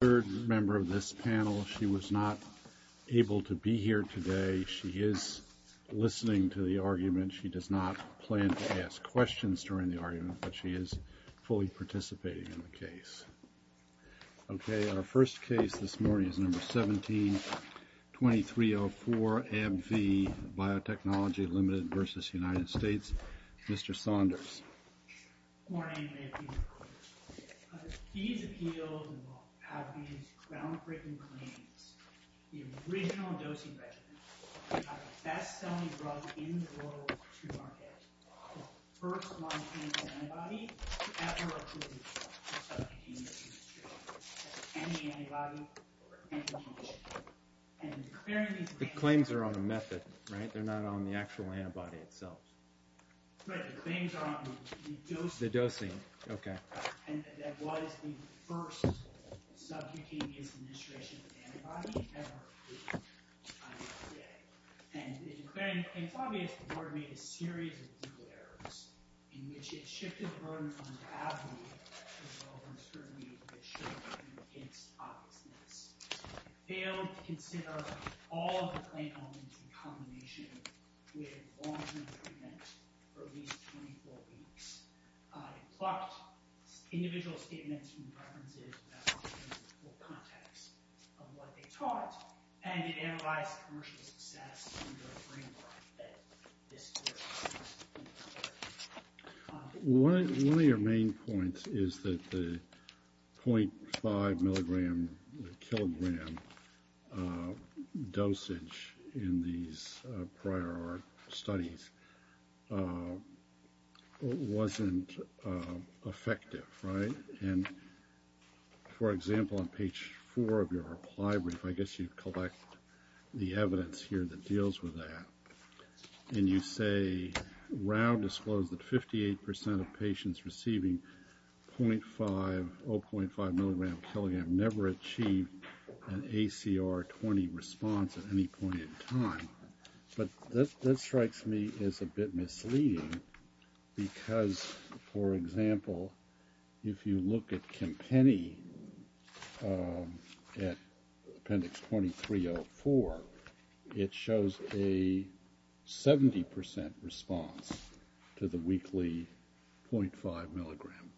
Mr. Saunders. Okay, our first case this morning is number 17-2304, ABV, Biotechnology Ltd. v. United States. Mr. Saunders. Good morning, Mayor Peter Cooper. These appeals have these groundbreaking claims. The original dosing regimen, we have the best-selling drug in the world to market. The first monoclonal antibody ever approved by the subcutaneous administration. That's any antibody, any mutation. The claims are on a method, right? They're not on the actual antibody itself. Right, the claims are on the dosing. The dosing, okay. And that was the first subcutaneous administration antibody ever approved by the FDA. And it's obvious the board made a series of legal errors, in which it shifted the burden onto ABV, as well as on scrutiny that showed an intense obviousness. It failed to consider all of the claim elements in combination with long-term treatment for at least 24 weeks. It plucked individual statements from references without giving the full context of what they taught. And it analyzed commercial success in the framework that this board has. One of your main points is that the 0.5 milligram, kilogram dosage in these prior studies wasn't effective, right? And, for example, on page four of your reply brief, I guess you collect the evidence here that deals with that. And you say, Rao disclosed that 58% of patients receiving 0.5 milligram, kilogram, never achieved an ACR 20 response at any point in time. But that strikes me as a bit misleading, because, for example, if you look at Kempenny at appendix 2304, it shows a 70% response to the weekly 0.5 milligram.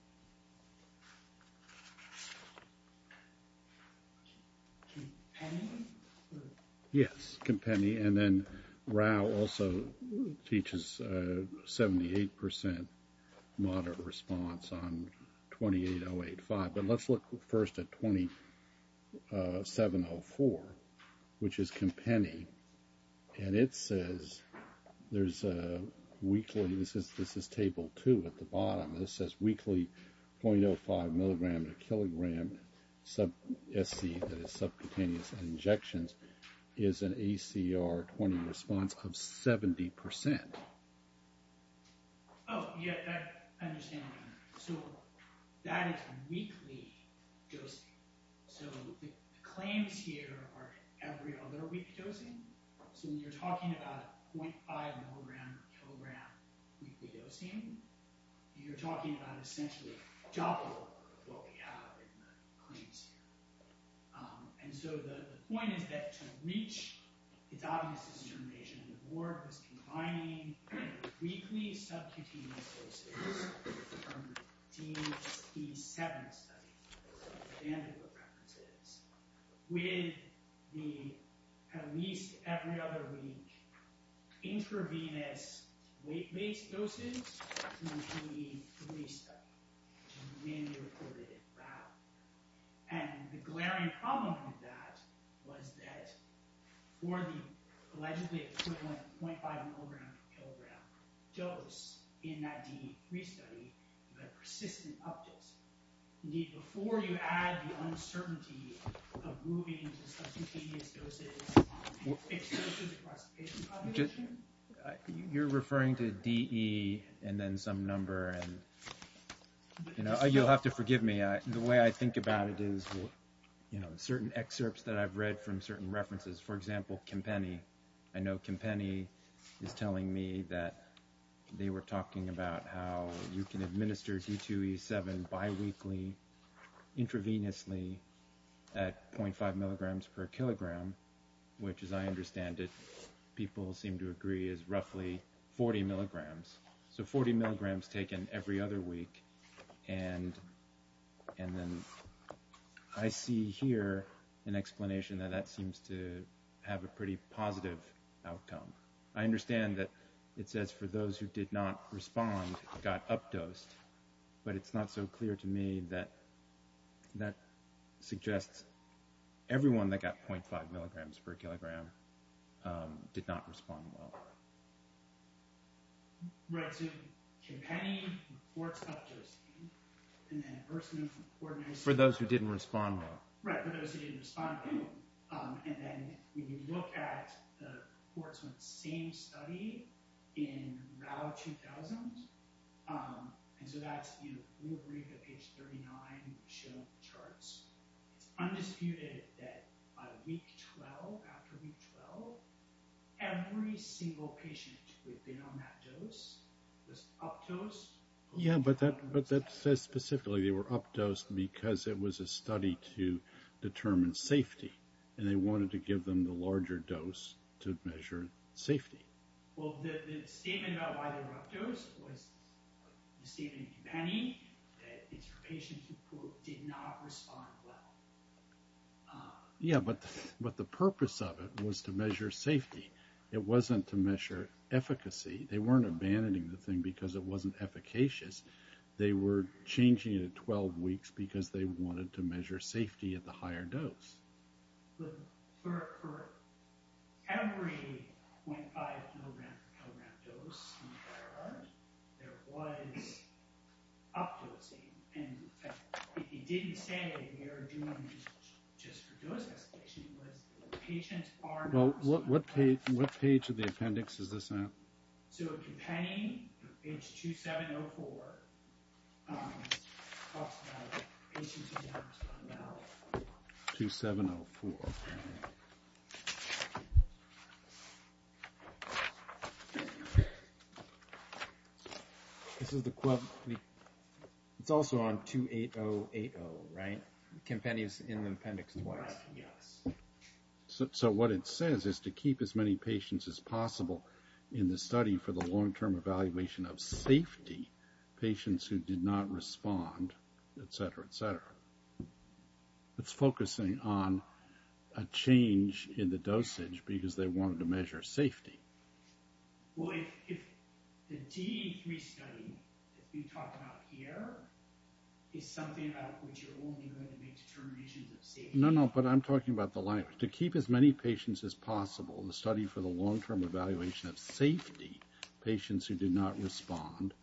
Kempenny? Yes, Kempenny. And then Rao also teaches a 78% moderate response on 28085. But let's look first at 2704, which is Kempenny. And it says there's a weekly, this is table two at the bottom, and it says weekly 0.05 milligram to kilogram SC, that is subcutaneous injections, is an ACR 20 response of 70%. Oh, yeah, I understand. So that is weekly dosing. So the claims here are every other week dosing. So when you're talking about 0.5 milligram, kilogram weekly dosing, you're talking about essentially a joppa of what we have in the claims here. And so the point is that to reach its obvious determination, the board was combining weekly subcutaneous doses from Dean's P7 study, with the, at least every other week, intravenous weight-based doses from the P3 study, which is mainly reported in Rao. And the glaring problem with that was that for the allegedly equivalent 0.5 milligram to kilogram dose in that D3 study, the persistent up-dose. Indeed, before you add the uncertainty of moving to subcutaneous doses, it's closer to the cross-patient population. You're referring to DE and then some number, and you'll have to forgive me. The way I think about it is, you know, certain excerpts that I've read from certain references. For example, Campeni. I know Campeni is telling me that they were talking about how you can administer D2E7 biweekly, intravenously at 0.5 milligrams per kilogram, which, as I understand it, people seem to agree is roughly 40 milligrams. So 40 milligrams taken every other week. And then I see here an explanation that that seems to have a pretty positive outcome. I understand that it says for those who did not respond, got up-dosed, but it's not so clear to me that that suggests everyone that got 0.5 milligrams per kilogram did not respond well. Right, so Campeni reports up-dosing, and then Erskine, for those who didn't respond well. Right, for those who didn't respond well. And then when you look at the reports on the same study in Rau 2000, and so that's, you know, we agree that page 39 showed the charts. It's undisputed that by week 12, after week 12, every single patient who had been on that dose was up-dosed. Yeah, but that says specifically they were up-dosed because it was a study to determine safety, and they wanted to give them the larger dose to measure safety. Yeah, but the purpose of it was to measure safety. It wasn't to measure efficacy. They weren't abandoning the thing because it wasn't efficacious. They were changing it at 12 weeks because they wanted to measure safety at the higher dose. But for every 0.5 milligram per kilogram dose, there was up-dosing, and it didn't say they were doing it just for dose escalation. It was the patient's arm was up-dosing. Well, what page of the appendix is this at? So Campani, page 2704, talks about the patient's arm is up-dosing. 2704. It's also on 28080, right? Campani is in the appendix twice. Yes. So what it says is to keep as many patients as possible in the study for the long-term evaluation of safety, patients who did not respond, etc., etc. It's focusing on a change in the dosage because they wanted to measure safety. Well, if the DE3 study that we talked about here is something about which you're only going to make determinations of safety. No, no, but I'm talking about the line. To keep as many patients as possible in the study for the long-term evaluation of safety, patients who did not respond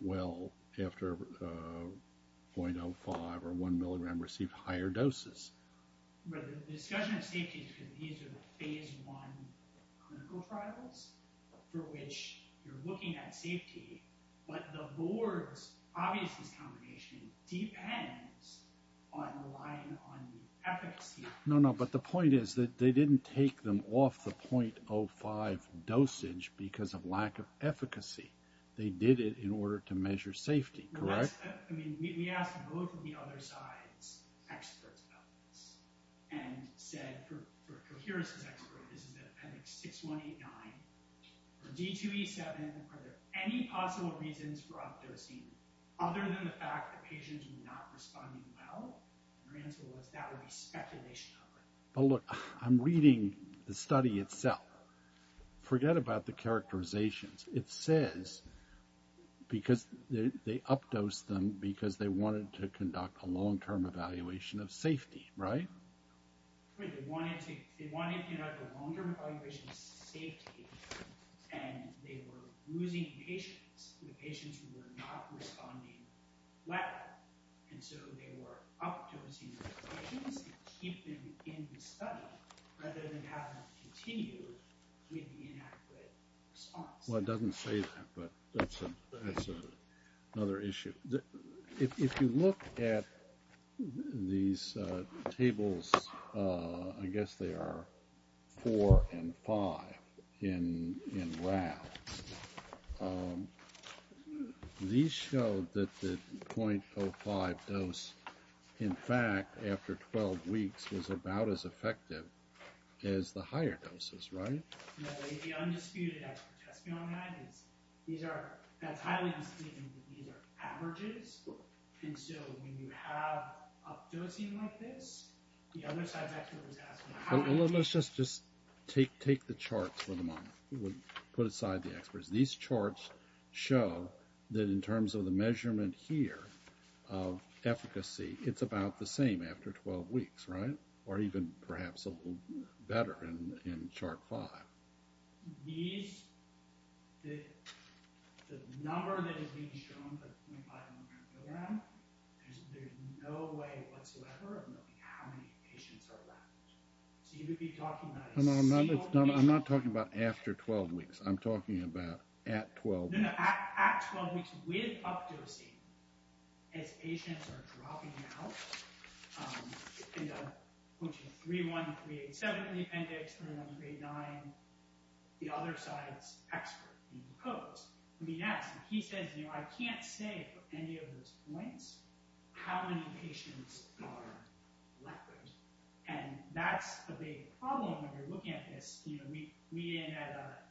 well after 0.05 or 1 milligram received higher doses. But the discussion of safety is because these are the Phase I clinical trials for which you're looking at safety, but the board's obvious discrimination depends on relying on the efficacy. No, no, but the point is that they didn't take them off the 0.05 dosage because of lack of efficacy. They did it in order to measure safety, correct? We asked both of the other side's experts about this, and said, for Coherence's expert, this is the appendix 6189. For DE2E7, are there any possible reasons for updosing other than the fact that patients were not responding well? And their answer was that would be speculation. But look, I'm reading the study itself. Forget about the characterizations. It says they updosed them because they wanted to conduct a long-term evaluation of safety, right? They wanted to conduct a long-term evaluation of safety, and they were losing patients, the patients who were not responding well. And so they were updosing those patients to keep them in the study rather than have them continue with the inadequate response. Well, it doesn't say that, but that's another issue. If you look at these tables, I guess they are 4 and 5 in round, these show that the 0.05 dose, in fact, after 12 weeks, was about as effective as the higher doses, right? The undisputed expert test beyond that is these are, that's highly unspecified, but these are averages. And so when you have updosing like this, the other side of that table is asking how. Let's just take the charts for the moment. We'll put aside the experts. These charts show that in terms of the measurement here of efficacy, it's about the same after 12 weeks, right? Or even perhaps a little better in chart 5. I'm not talking about after 12 weeks. I'm talking about at 12. I'm quoting 31387 in the appendix, 31389, the other side's expert in the codes. He says, I can't say for any of those points how many patients are left. And that's a big problem when you're looking at this. We, at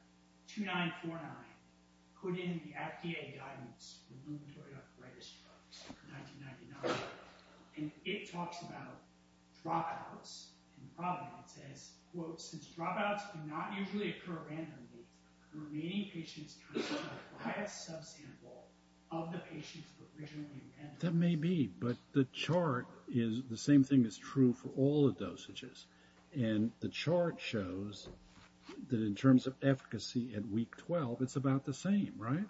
2949, put in the FDA guidance for rheumatoid arthritis drugs for 1999. And it talks about dropouts. And probably it says, quote, since dropouts do not usually occur randomly, the remaining patients come from a biased subsample of the patients who were originally amended. That may be, but the chart is the same thing that's true for all the dosages. And the chart shows that in terms of efficacy at week 12, it's about the same, right?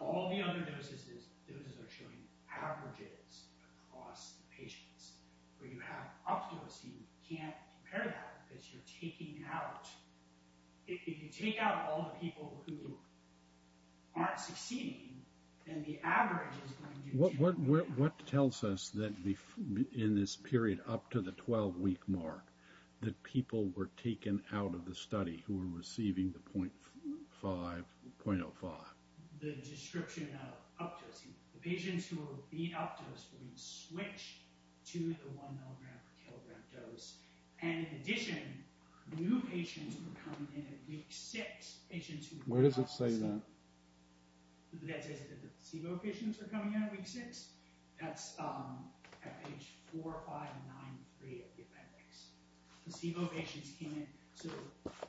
All the other doses are showing averages across the patients. Where you have updosing, you can't compare that because you're taking out, if you take out all the people who aren't succeeding, then the average is going to be... What tells us that in this period up to the 12-week mark that people were taken out of the study who were receiving the 0.05? Where does it say that? That says that the placebo patients are coming in at week 6? That's at page 4593 of the appendix. Placebo patients came in...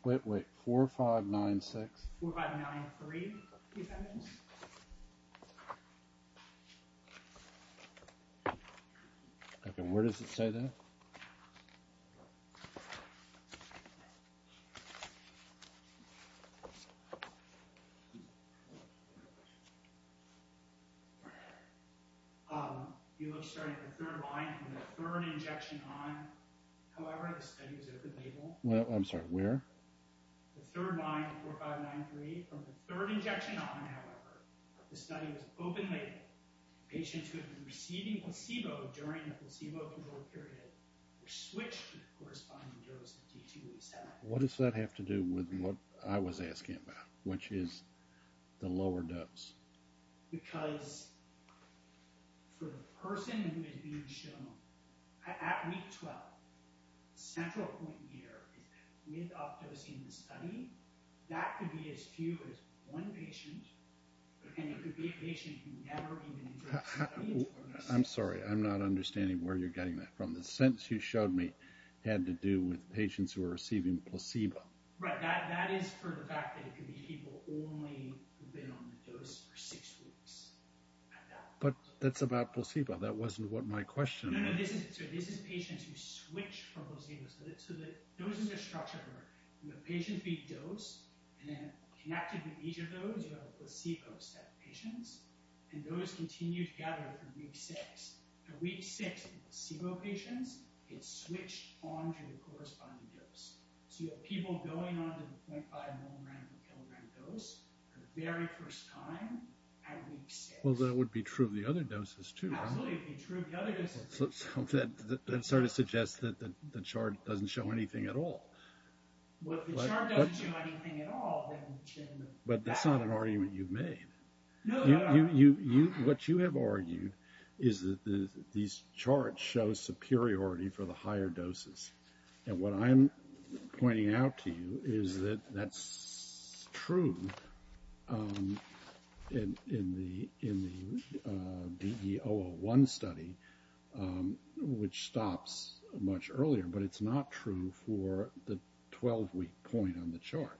Wait, wait, 4596? 4593, the appendix. Okay, where does it say that? I have a question. You look straight at the third line from the third injection on. However, the study was open-labeled. Well, I'm sorry, where? The third line, 4593. From the third injection on, however, the study was open-labeled. Patients who had been receiving placebo during the placebo-controlled period were switched to the corresponding dose of D287. What does that have to do with what I was asking about, which is the lower dose? I'm sorry, I'm not understanding where you're getting that from. The sentence you showed me had to do with patients who were receiving placebo. People who had only been on the dose for six weeks. But that's about placebo. That wasn't what my question was. No, no, this is patients who switched from placebo. So the doses are structured. You have patients who eat dose, and then connected with each of those you have a placebo set of patients, and those continue together for week 6. At week 6, the placebo patients get switched on to the corresponding dose. So you have people going on to the 0.5 mg per kg dose for the very first time at week 6. Absolutely, it would be true of the other doses. Well, if the chart doesn't show anything at all, then the chip in the back... No, it doesn't. That's true in the DE-001 study, which stops much earlier, but it's not true for the 12-week point on the chart.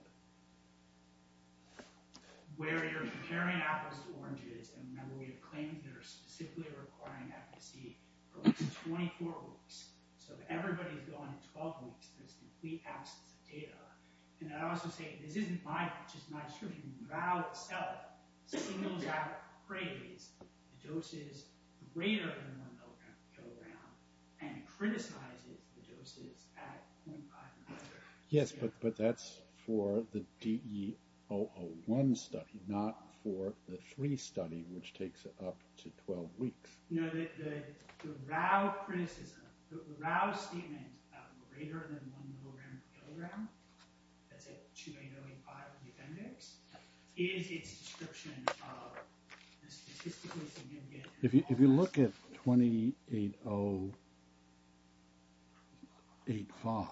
This isn't just my description. The RAO itself signals out cravings, doses greater than 1 mg per kg, and it criticizes the doses at 0.5 mg per kg. Yes, but that's for the DE-001 study, not for the 3 study, which takes up to 12 weeks. No, the RAO criticism, the RAO statement of greater than 1 mg per kg that's at 28085 of the appendix is its description of the statistically significant... If you look at 28085,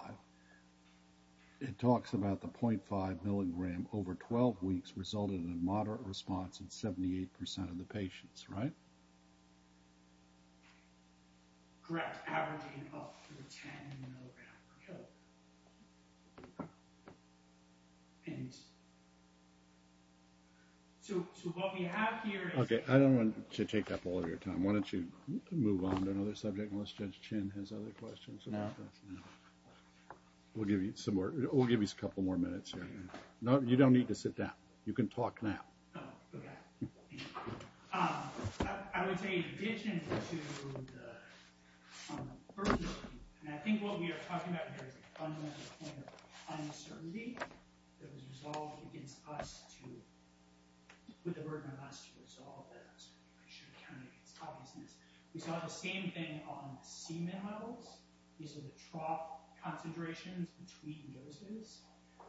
it talks about the 0.5 mg over 12 weeks resulted in a moderate response in 78% of the patients, right? Correct, averaging up to 10 mg per kg. And... So what we have here is... Okay, I don't want to take up all of your time. Why don't you move on to another subject unless Judge Chin has other questions? No. We'll give you a couple more minutes here. You don't need to sit down. You can talk now. Okay. I would say in addition to the... I think what we are talking about here is a fundamental point of uncertainty that was resolved against us to... with the burden of us to resolve that. We saw the same thing on the semen levels. These are the trough concentrations between doses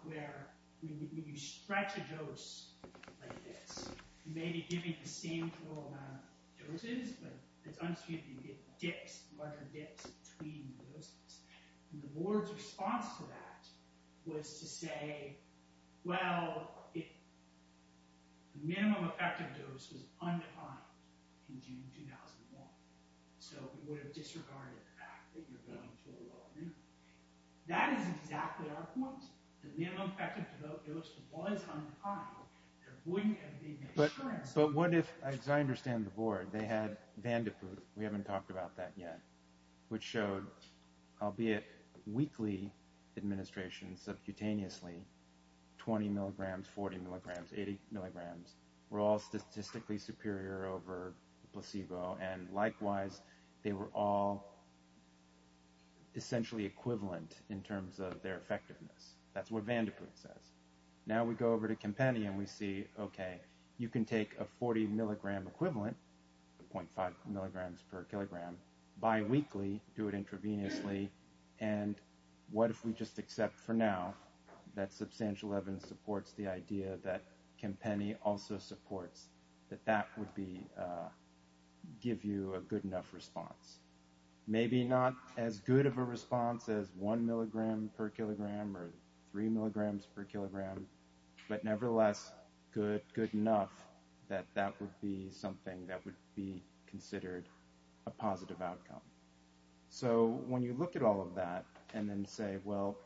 where when you stretch a dose like this, you may be giving the same total amount of doses, but it's understood that you get dips, larger dips between doses. And the board's response to that was to say, well, the minimum effective dose was undefined in June 2001. So we would have disregarded the fact that you're going to a low amount. That is exactly our point. The minimum effective dose was undefined. But what if, as I understand the board, they had Vandeput, we haven't talked about that yet, which showed, albeit weekly administration, subcutaneously, 20 mg, 40 mg, 80 mg, were all statistically superior over placebo, and likewise they were all essentially equivalent in terms of their effectiveness. That's what Vandeput says. Now we go over to Campanian, we see, okay, you can take a 40 mg equivalent, 0.5 mg per kilogram, biweekly, do it intravenously, and what if we just accept for now that substantial evidence supports the idea that Campany also supports that that would be, give you a good enough response. Maybe not as good of a response as 1 mg per kilogram or 3 mg per kilogram, but nevertheless good enough that that would be something that would be considered a positive outcome. So when you look at all of that and then say, well,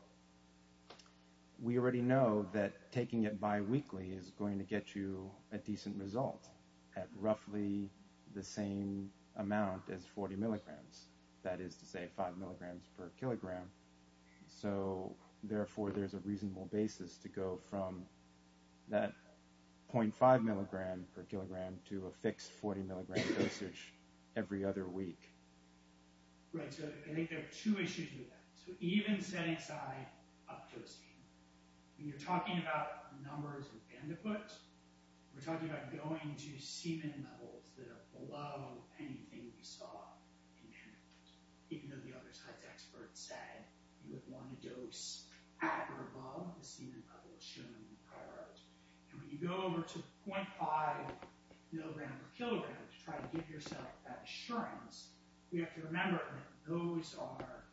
we already know that taking it biweekly is going to get you a decent result at roughly the same amount as 40 mg, that is to say 5 mg per kilogram, so therefore there's a reasonable basis to go from that 0.5 mg per kilogram to a fixed 40 mg dosage every other week. Right, so I think there are two issues with that. So even setting aside up-dosing, when you're talking about numbers in Bandaput, we're talking about going to semen levels that are below anything we saw in Bandaput, even though the other science experts said you would want a dose at or above the semen level of shown priority. And when you go over to 0.5 mg per kilogram to try to give yourself that assurance, you have to remember that those are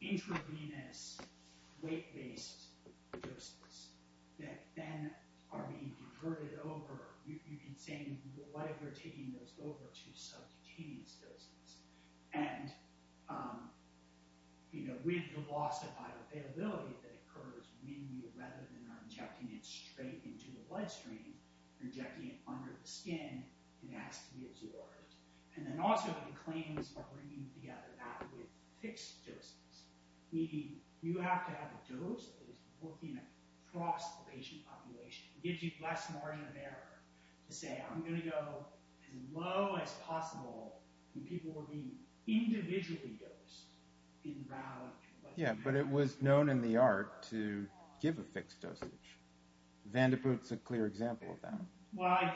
intravenous weight-based doses that then are being diverted over. You can say what if we're taking those over to subcutaneous doses. And with the loss of bioavailability that occurs when you, rather than injecting it straight into the bloodstream, you're injecting it under the skin and it has to be absorbed. And then also the claims are bringing together that with fixed doses. Meaning you have to have a dose that is working across the patient population. It gives you less margin of error to say I'm going to go as low as possible when people are being individually dosed in route. Yeah, but it was known in the art to give a fixed dosage. Vandeput's a clear example of that. Well,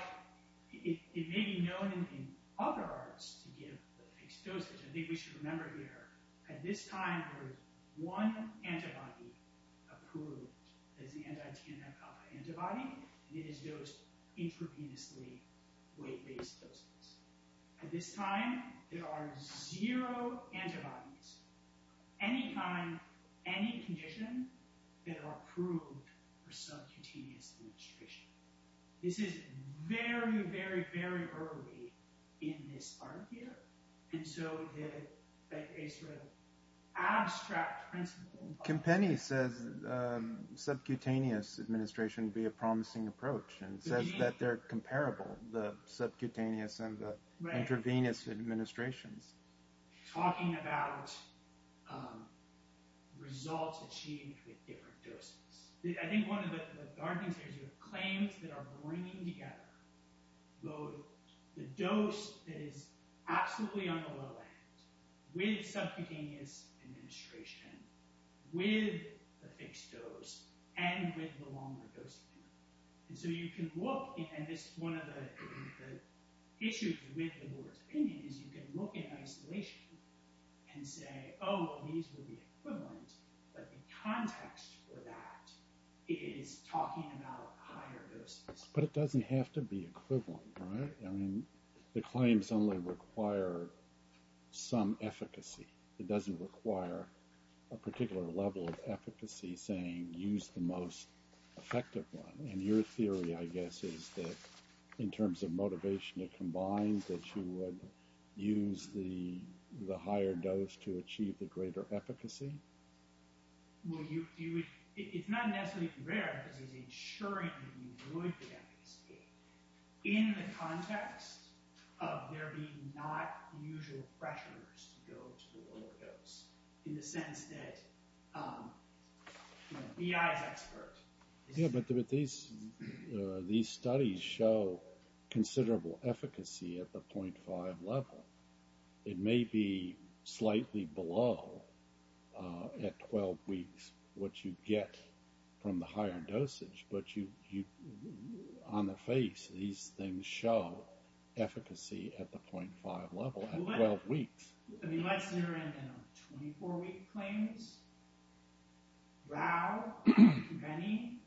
it may be known in other arts to give a fixed dosage. I think we should remember here, at this time there is one antibody approved as the anti-TMI antibody and it is dosed intravenously weight-based doses. At this time, there are zero antibodies any time, any condition, that are approved for subcutaneous administration. This is very, very, very early in this art here and so it's an abstract principle. Kempeni says subcutaneous administration would be a promising approach and says that they're comparable the subcutaneous and the intravenous administrations. Talking about results achieved with different doses. I think one of the gardens here is claims that are bringing together both the dose that is absolutely on the low end with subcutaneous administration with the fixed dose and with the longer dosing. And so you can look, and this is one of the issues with the board's opinion, is you can look in isolation and say, oh, these would be equivalent, but the context for that is talking about higher doses. But it doesn't have to be equivalent, right? I mean, the claims only require some efficacy. It doesn't require a particular level of efficacy saying, use the most effective one. And your theory, I guess, is that in terms of motivation, it combines that you would use the higher dose to achieve the greater efficacy? Well, you would... It's not necessarily rare, because it's ensuring that you would get efficacy in the context of there being not usual pressures to go to the lower dose. In the sense that BI is expert. Yeah, but these studies show considerable efficacy at the 0.5 level. It may be slightly below at 12 weeks what you get from the higher dosage, but on the face, these things show efficacy at the 0.5 level at 12 weeks. I mean, let's enter in 24-week claims. Rao, many,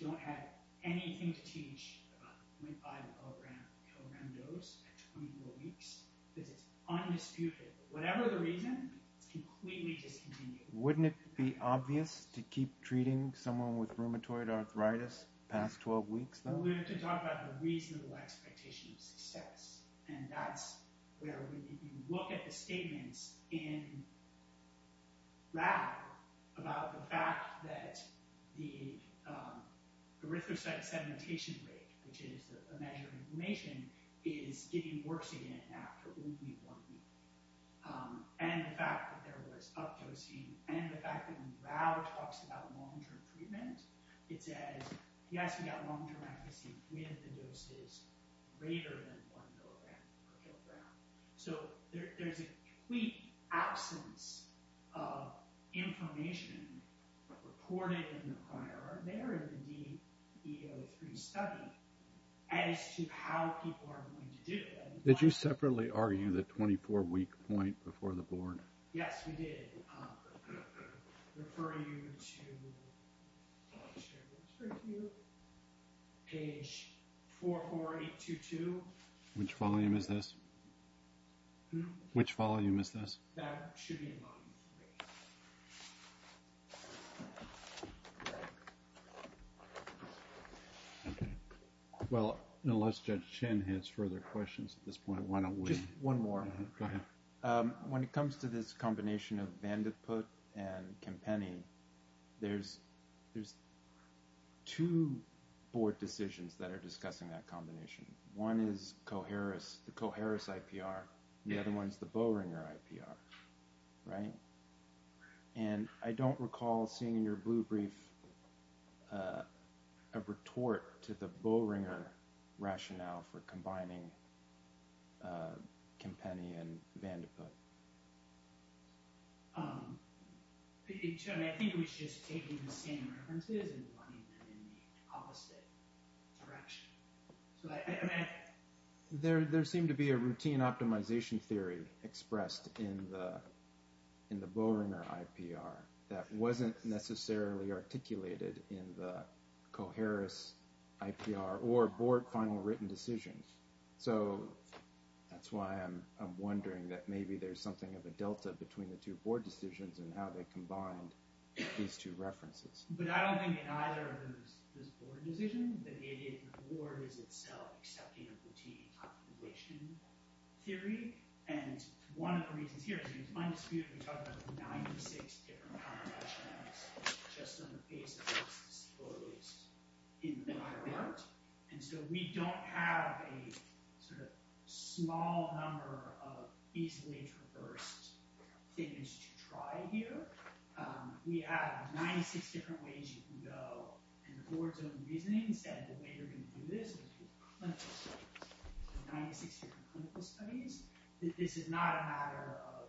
don't have anything to teach about the 0.5-kilogram dose at 24 weeks, because it's undisputed. Whatever the reason, it's completely discontinued. Wouldn't it be obvious to keep treating someone with rheumatoid arthritis past 12 weeks, though? Well, we have to talk about the reasonable expectation of success, and that's where you look at the statements in Rao about the fact that the erythrocyte sedimentation rate, which is a measure of inflammation, is getting worse again after only one week. And the fact that there was updosing, and the fact that when Rao talks about long-term treatment, it says, yes, we got long-term efficacy with the doses greater than 1 mg per kilogram. There's a complete absence of inflammation reported in the prior, or there in the DEO3 study, as to how people are going to do it. Did you separately argue the 24-week point before the board? Yes, we did. Refer you to the page 44822. Which volume is this? Which volume is this? Okay. Well, unless Judge Chen has further questions at this point, why don't we... Just one more. When it comes to this combination of Vandeput and Kempeni, there's two board decisions that are discussing that combination. One is the Coharis IPR, the other one is the Boehringer IPR. Right? And I don't recall seeing in your blue brief a retort to the Boehringer rationale for combining Kempeni and Vandeput. I think it was just taking the same references and running them in the opposite direction. There seemed to be a routine optimization theory expressed in the Boehringer IPR that wasn't necessarily articulated in the Coharis IPR or board final written decisions. So, that's why I'm wondering that maybe there's something of a delta between the two board decisions and how they combined these two references. But I don't think in either of those board decisions that it in the board is itself accepting a routine optimization theory. And one of the reasons here is we talk about 96 different power rationales just on the basis of in the higher art. And so we don't have a small number of easily traversed things to try here. We have 96 different ways you can go and the board's own reasoning said the way you're going to do this is with clinical studies. 96 different clinical studies. This is not a matter of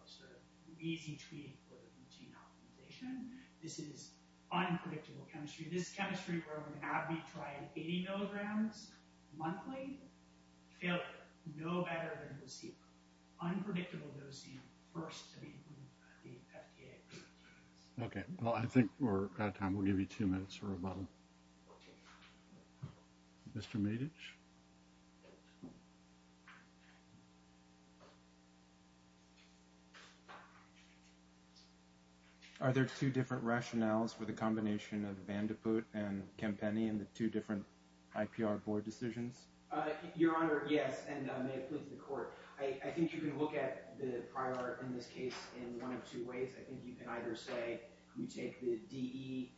easy treating for routine optimization. This is unpredictable chemistry. This is chemistry where we try 80 milligrams monthly. Failure. No better than unpredictable dosing first. Okay. Well, I think we're out of time. We'll give you two minutes for a bubble. Mr. Medich? Are there two different rationales for the combination of Van de Poot and Kempeni and the two different IPR board decisions? Your Honor, yes. And may it please the court. I think you can look at the prior in this case in one of two ways. I think you can either say you take the DE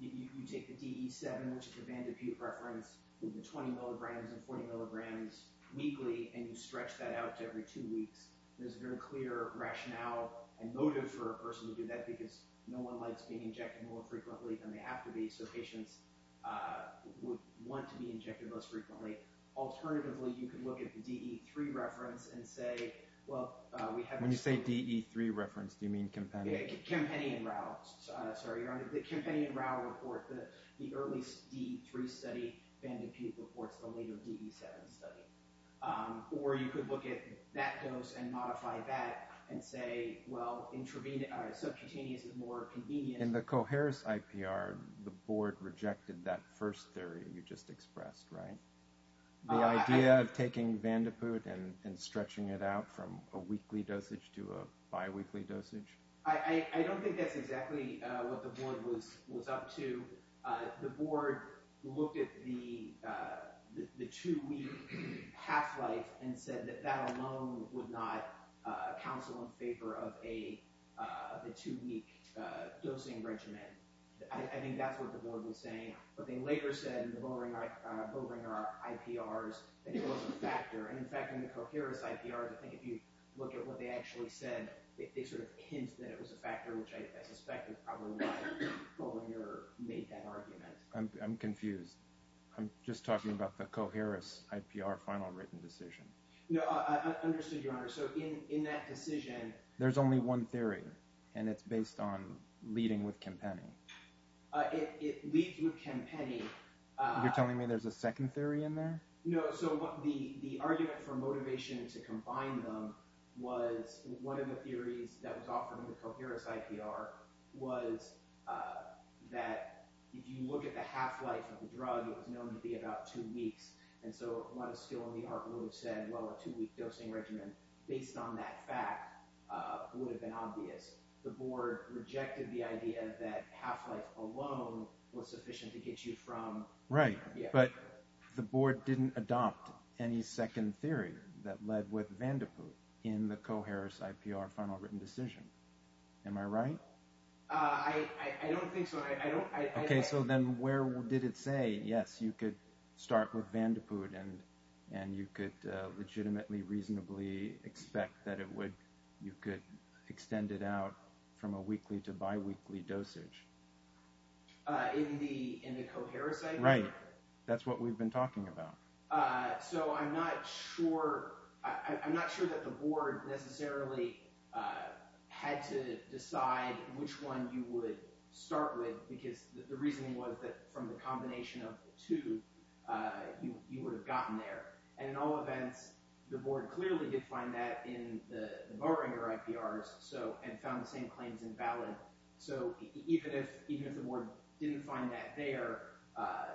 you take the DE7 which is the Van de Poot reference with the 20 milligrams and 40 milligrams weekly and you stretch that out to every two weeks. There's a very clear rationale and motive for a person to do that because no one likes being injected more frequently than they have to be so patients would want to be injected less frequently. Alternatively, you could look at the DE3 reference and say, well, When you say DE3 reference, do you mean Kempeni? Kempeni and Rao. Sorry, Your Honor. The Kempeni and Rao report, the early DE3 study, Van de Poot reports the later DE7 study. Or you could look at that dose and modify that and say, well, subcutaneous is more convenient. In the Coharis IPR, the board rejected that first theory you just expressed, right? The idea of taking Van de Poot and stretching it out from a weekly dosage to a biweekly dosage? I don't think that's exactly what the board was up to. The board looked at the two-week half-life and said that that alone would not counsel in favor of a two-week dosing regimen. I think that's what the board was saying. But they later said in the Bollinger IPRs that it was a factor. And in fact, in the Coharis IPRs, I think if you look at what they actually said, they sort of hinted that it was a factor, which I suspect is probably why Bollinger made that argument. I'm confused. I'm just talking about the Coharis IPR final written decision. No, I understood, Your Honor. So in that decision... There's only one theory, and it's based on leading with Kempeni. It leads with Kempeni. You're telling me there's a second theory in there? No, so the argument for motivation to combine them was one of the theories that was offered in the Coharis IPR was that if you look at the half-life of the drug, it was known to be about two weeks. And so a lot of skill in the art would have said, well, a two-week dosing regimen, based on that fact, would have been obvious. The board rejected the idea that half-life alone was sufficient to get you from... Right, but the board didn't adopt any second theory that led with Vandeput in the Coharis IPR final written decision. Am I right? I don't think so. Okay, so then where did it say, yes, you could start with Vandeput and you could legitimately, reasonably expect that you could extend it out from a weekly to biweekly dosage? In the Coharis IPR? Right. That's what we've been talking about. So I'm not sure that the board necessarily had to decide which one you would start with, because the reason was that from the combination of the two, you would have gotten there. And in all events, the board clearly did find that in the Barringer IPRs and found the same claims invalid. So even if the board didn't find that there,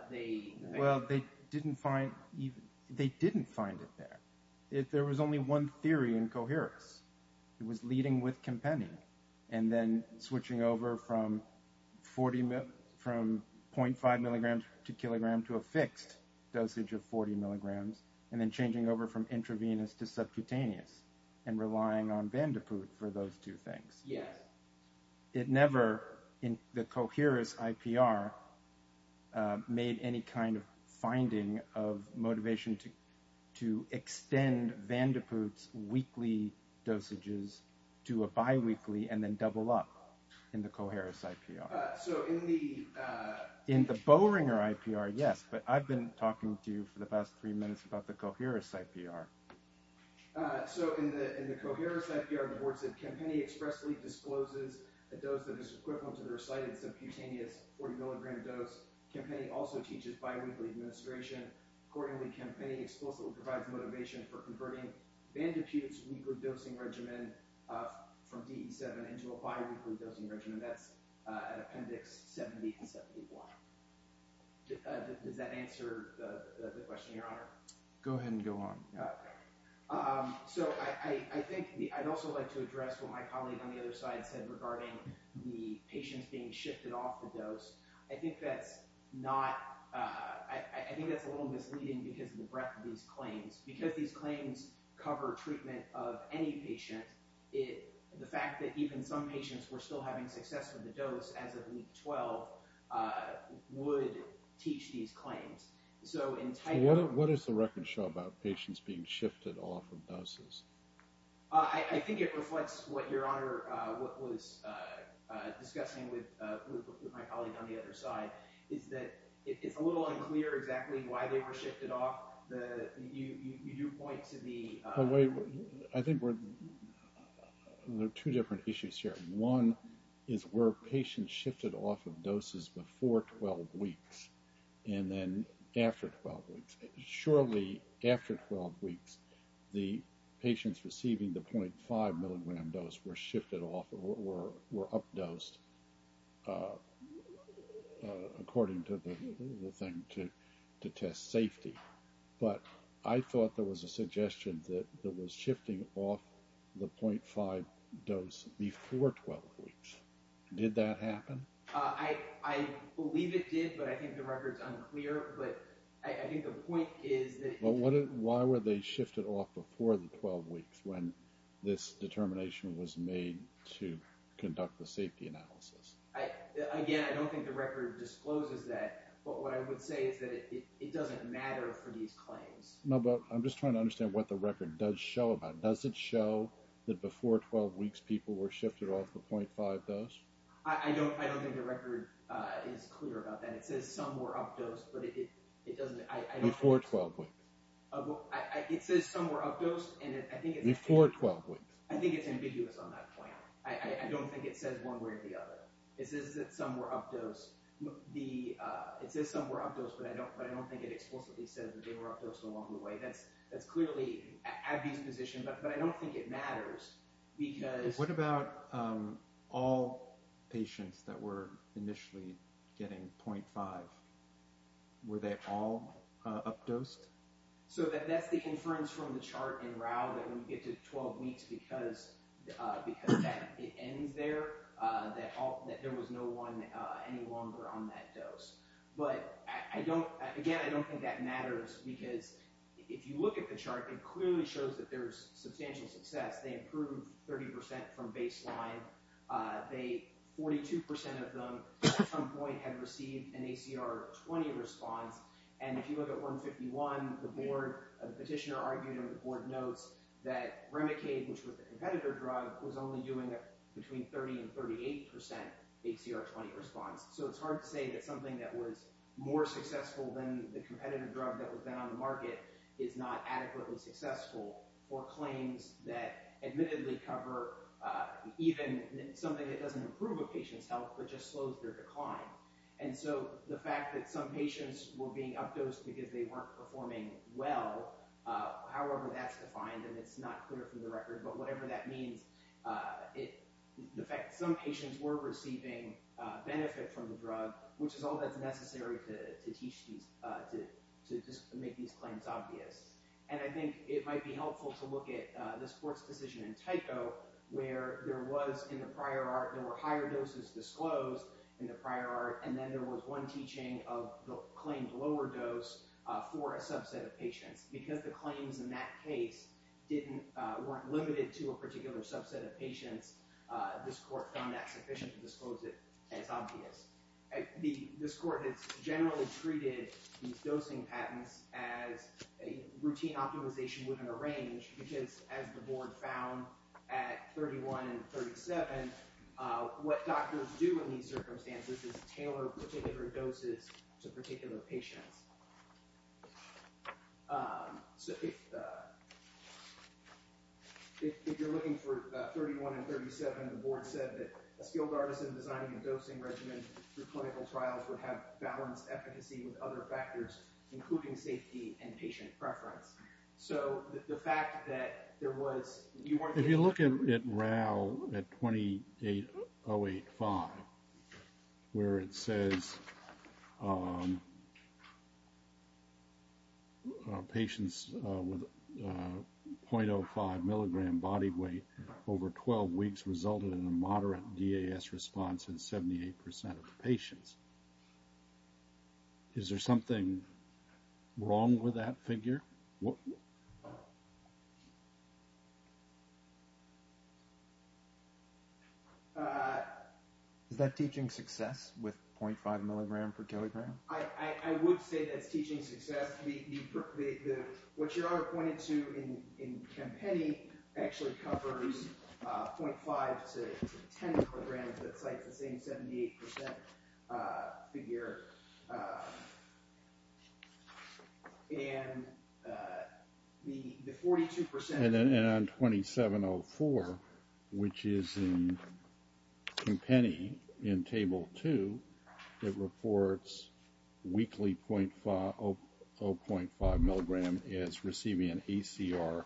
they... Well, they didn't find it there. There was only one theory in Coharis. It was leading with Campenni, and then switching over from 0.5 mg to kg to a fixed dosage of 40 mg, and then changing over from intravenous to subcutaneous, and relying on Vandeput for those two things. It never, in the Coharis IPR, made any kind of finding of motivation to extend Vandeput's weekly dosages to a biweekly and then double up in the Coharis IPR. So in the... In the Bowringer IPR, yes, but I've been talking to you for the past three minutes about the Coharis IPR. So in the Coharis IPR, the board said Campenni expressly discloses a dose that is equivalent to the recited subcutaneous 40 mg dose. Campenni also teaches biweekly administration. Accordingly, Campenni explicitly provides motivation for converting Vandeput's weekly dosing regimen from DE7 into a Appendix 70 and 71. Does that answer the question, Your Honor? Go ahead and go on. So I think I'd also like to address what my colleague on the other side said regarding the patients being shifted off the dose. I think that's not... I think that's a little misleading because of the breadth of these claims. Because these claims cover treatment of any patient, the fact that even some patients were still having success with the dose as of week 12 would teach these claims. So in title... What does the record show about patients being shifted off of doses? I think it reflects what Your Honor was discussing with my colleague on the other side, is that it's a little unclear exactly why they were shifted off. You do point to the... I think we're... One is where patients shifted off of doses before 12 weeks and then after 12 weeks. Surely after 12 weeks the patients receiving the .5 milligram dose were shifted off or were up-dosed according to the thing to test safety. But I thought there was a suggestion that was shifting off the .5 dose before 12 weeks. Did that happen? I believe it did, but I think the record's unclear. I think the point is that... Why were they shifted off before the 12 weeks when this determination was made to conduct the safety analysis? Again, I don't think the record discloses that, but what I would say is that it doesn't matter for these claims. I'm just trying to understand what the record does show about it. Does it show that before 12 weeks people were shifted off the .5 dose? I don't think the record is clear about that. It says some were up-dosed, but it doesn't... Before 12 weeks. It says some were up-dosed and I think it's... Before 12 weeks. I think it's ambiguous on that point. I don't think it says one way or the other. It says that some were up-dosed. It says some were up-dosed, but I don't think it explicitly says that they were up-dosed along the way. I think that's clearly at a disposition, but I don't think it matters because... What about all patients that were initially getting .5? Were they all up-dosed? That's the inference from the chart in Rao that when you get to 12 weeks because it ends there that there was no one any longer on that dose. Again, I don't think that matters because if you look at the chart, it clearly shows that there's substantial success. They improved 30% from baseline. 42% of them at some point had received an ACR 20 response, and if you look at 151, the petitioner argued and the board notes that Remicade, which was the competitor drug, was only doing between 30% and 38% ACR 20 response, so it's hard to say that something that was more successful than the competitive drug that was then on the market is not adequately successful for claims that admittedly cover even something that doesn't improve a patient's health but just slows their decline. And so the fact that some patients were being up-dosed because they weren't performing well, however that's defined, and it's not clear from the record, but whatever that means, the fact that some patients were receiving benefit from the drug, which is all that's necessary to teach these, to make these claims obvious. And I think it might be helpful to look at this court's decision in Tyco where there was, in the prior art, there were higher doses disclosed in the prior art, and then there was one teaching of the claimed lower dose Because the claims in that case weren't limited to a particular subset of patients, this court found that sufficient to disclose it as obvious. This court has generally treated these dosing patents as a routine optimization within a range because as the board found at 31 and 37, what doctors do in these circumstances is tailor particular doses to particular patients. So if if you're looking for 31 and 37, the board said that a skilled artisan designing a dosing regimen for clinical trials would have balanced efficacy with other factors including safety and patient preference. So the fact that there was If you look at RAL at 28085 where it says patients with 0.05 milligram body weight over 12 weeks resulted in a moderate DAS response in 78% of patients. Is there something wrong with that figure? Is that teaching success with 0.5 milligram per kilogram? I would say that's teaching success. What you're pointing to in Kempenny actually covers 0.5 to 10 milligrams. That's like the same 78% figure. And the 42% And on 2704 which is in Kempenny in table 2, it reports weekly 0.5 0.5 milligram is receiving an ACR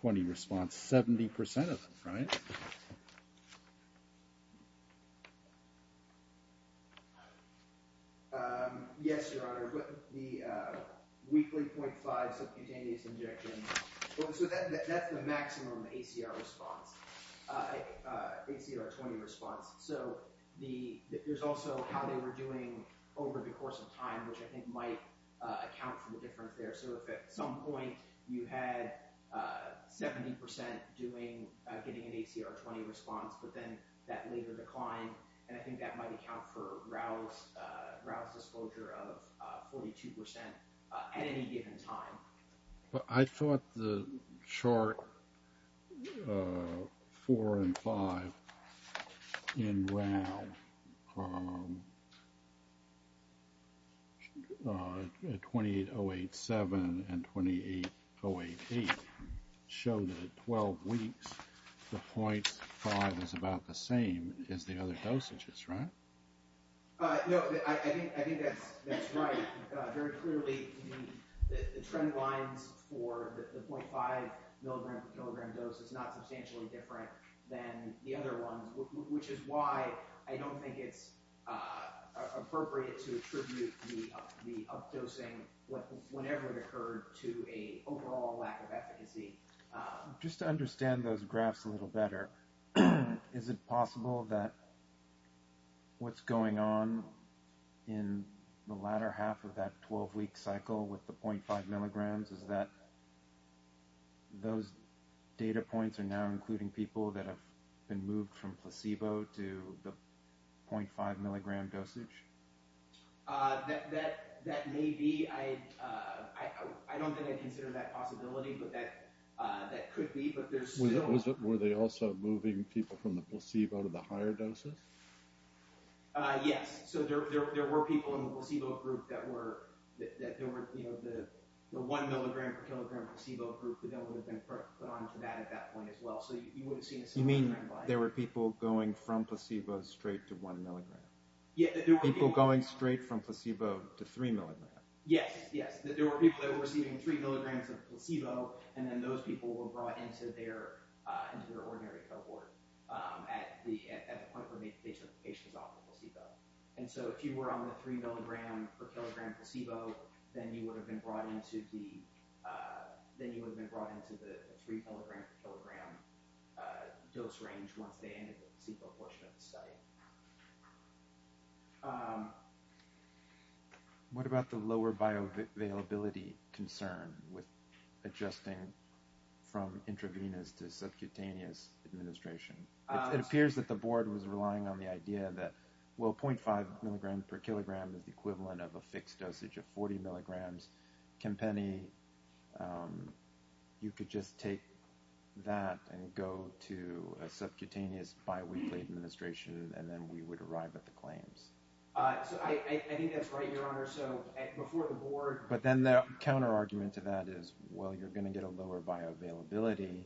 20 response, 70% of them, right? Yes, Your Honor. The weekly 0.5 subcutaneous injections So that's the maximum ACR response. ACR 20 response. There's also how they were doing over the course of time which I think might account for the difference there. So if at some point you had 70% getting an ACR 20 response but then that later declined and I think that might account for Raoul's disclosure of 42% at any given time. I thought the chart 4 and 5 in Raoul 28087 and 28088 show that at 12 weeks the 0.5 is about the same as the other dosages, right? No, I think that's right. Very clearly the trend lines for the 0.5 milligram dose is not substantially different than the other ones which is why I don't think it's appropriate to attribute the updosing whenever it occurred to an overall lack of efficacy. Just to understand those graphs a little better is it possible that what's going on in the latter half of that 12 week cycle with the 0.5 milligrams is that those data points are now including people that have been moved from placebo to the 0.5 milligram dosage? That may be I don't think I'd consider that a possibility but that could be Were they also moving people from the placebo to the higher doses? Yes. So there were people in the placebo group that were that there were the 1 milligram per kilogram placebo group that would have been put on to that at that point as well. You mean there were people going from placebo straight to 1 milligram? People going straight from placebo to 3 milligram? Yes. There were people that were receiving 3 milligrams of placebo and then those people were brought into their ordinary cohort at the point where they took the patients off the placebo. And so if you were on the 3 milligram per kilogram placebo then you would have been brought into the then you would have been brought into the 3 milligram per kilogram dose range once they entered the placebo portion of the study. What about the lower bioavailability concern with adjusting from intravenous to subcutaneous administration? It appears that the board was relying on the idea that 0.5 milligram per kilogram is the equivalent of a fixed dosage of 40 milligrams. You could just take that and go to a subcutaneous biweekly administration and then we would arrive at the claims. I think that's right, Your Honor. Before the board... But then the counter argument to that is you're going to get a lower bioavailability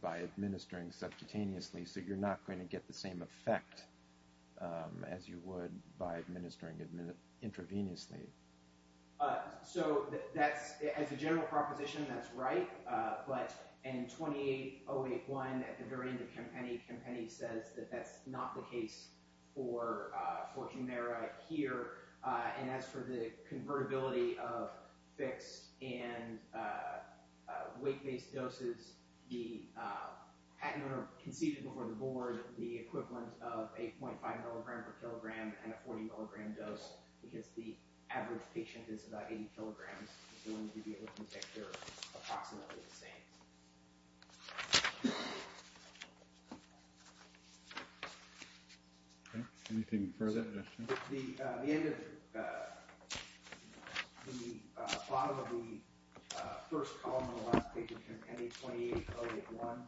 by administering subcutaneously so you're not going to get the same effect as you would by administering intravenously. So that's... As a general proposition, that's right. But in 28081 at the very end of Campany, Campany says that that's not the case for Humira here. And as for the convertibility of fixed and weight-based doses, the patent owner conceded before the board the equivalent of 0.5 milligram per kilogram and a 40 milligram dose because the average patient is about 80 kilograms. They're going to be able to take care of approximately the same. Anything further? The end of the bottom of the first column of the last page of Campany 28081.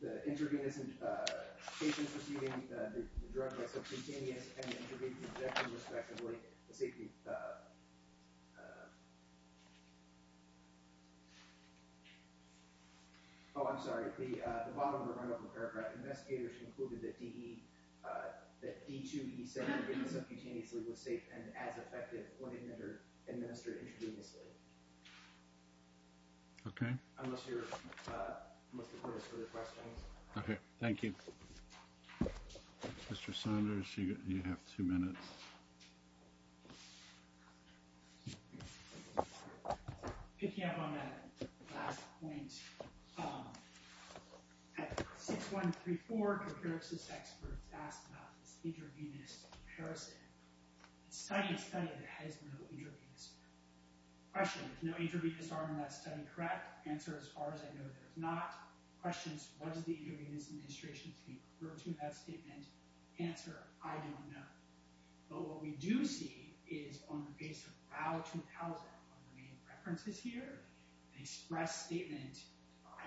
The interview isn't... The patient is receiving the drug subcutaneously and the interview is rejected respectively. Oh, I'm sorry. The bottom of the run-up of the paragraph, investigators concluded that D2E7 subcutaneously was safe and as effective when administered intravenously. Unless the board has further questions. Thank you. Mr. Saunders, you have two minutes. Picking up on that last point, at 6134, one of the therapist experts asked about this intravenous comparison. It's a study that has no intravenous. Question, there's no intravenous arm in that study, correct? Answer, as far as I know, there's not. Question, what does the intravenous administration state refer to in that statement? Answer, I don't know. But what we do see is on the base of RAU2000, one of the main references here, the express statement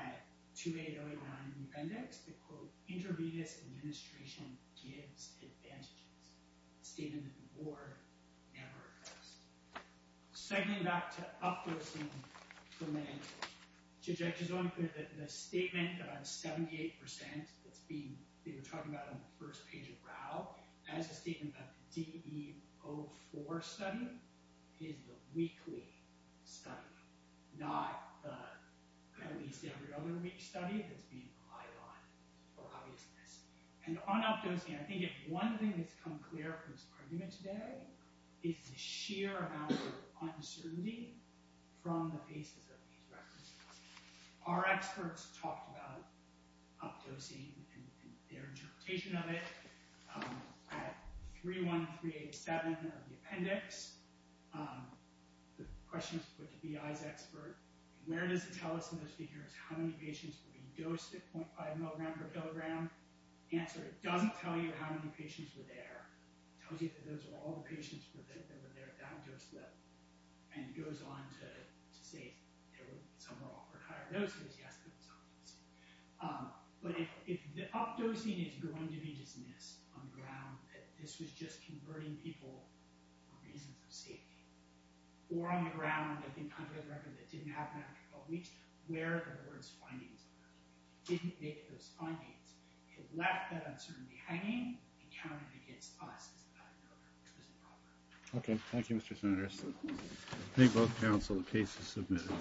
at 28081 in the appendix, the quote, intravenous administration gives advantages. Statement that the board never Segmenting back to up-closing for a minute. The statement about 78% that's being, that you're talking about on the first page of RAU, that's a statement about the DE04 study is the weekly study, not the, at least every other week study that's being relied on for obviousness. And on up-dosing, I think if one thing has come clear from this argument today, it's the sheer amount of uncertainty from the faces of these references. Our experts talked about up-dosing and their interpretation of it at 31387 of the appendix. The question was put to the EI's expert, where does it tell us in those figures how many patients were being dosed at 0.5 mg per kg? The answer, it doesn't tell you how many patients were there. It tells you that those were all the patients that were there at that dose level. And it goes on to say there were somewhere offered higher doses. Yes, that was obvious. But if the up-dosing is going to be dismissed on the ground that this was just converting people for reasons of safety or on the ground, contrary to the record, that it didn't happen after 12 weeks, where are the word's findings? It didn't make those findings. It left that uncertainty hanging and counted against us as a factor. Okay, thank you Mr. Senator. I think both counsel, the case is submitted.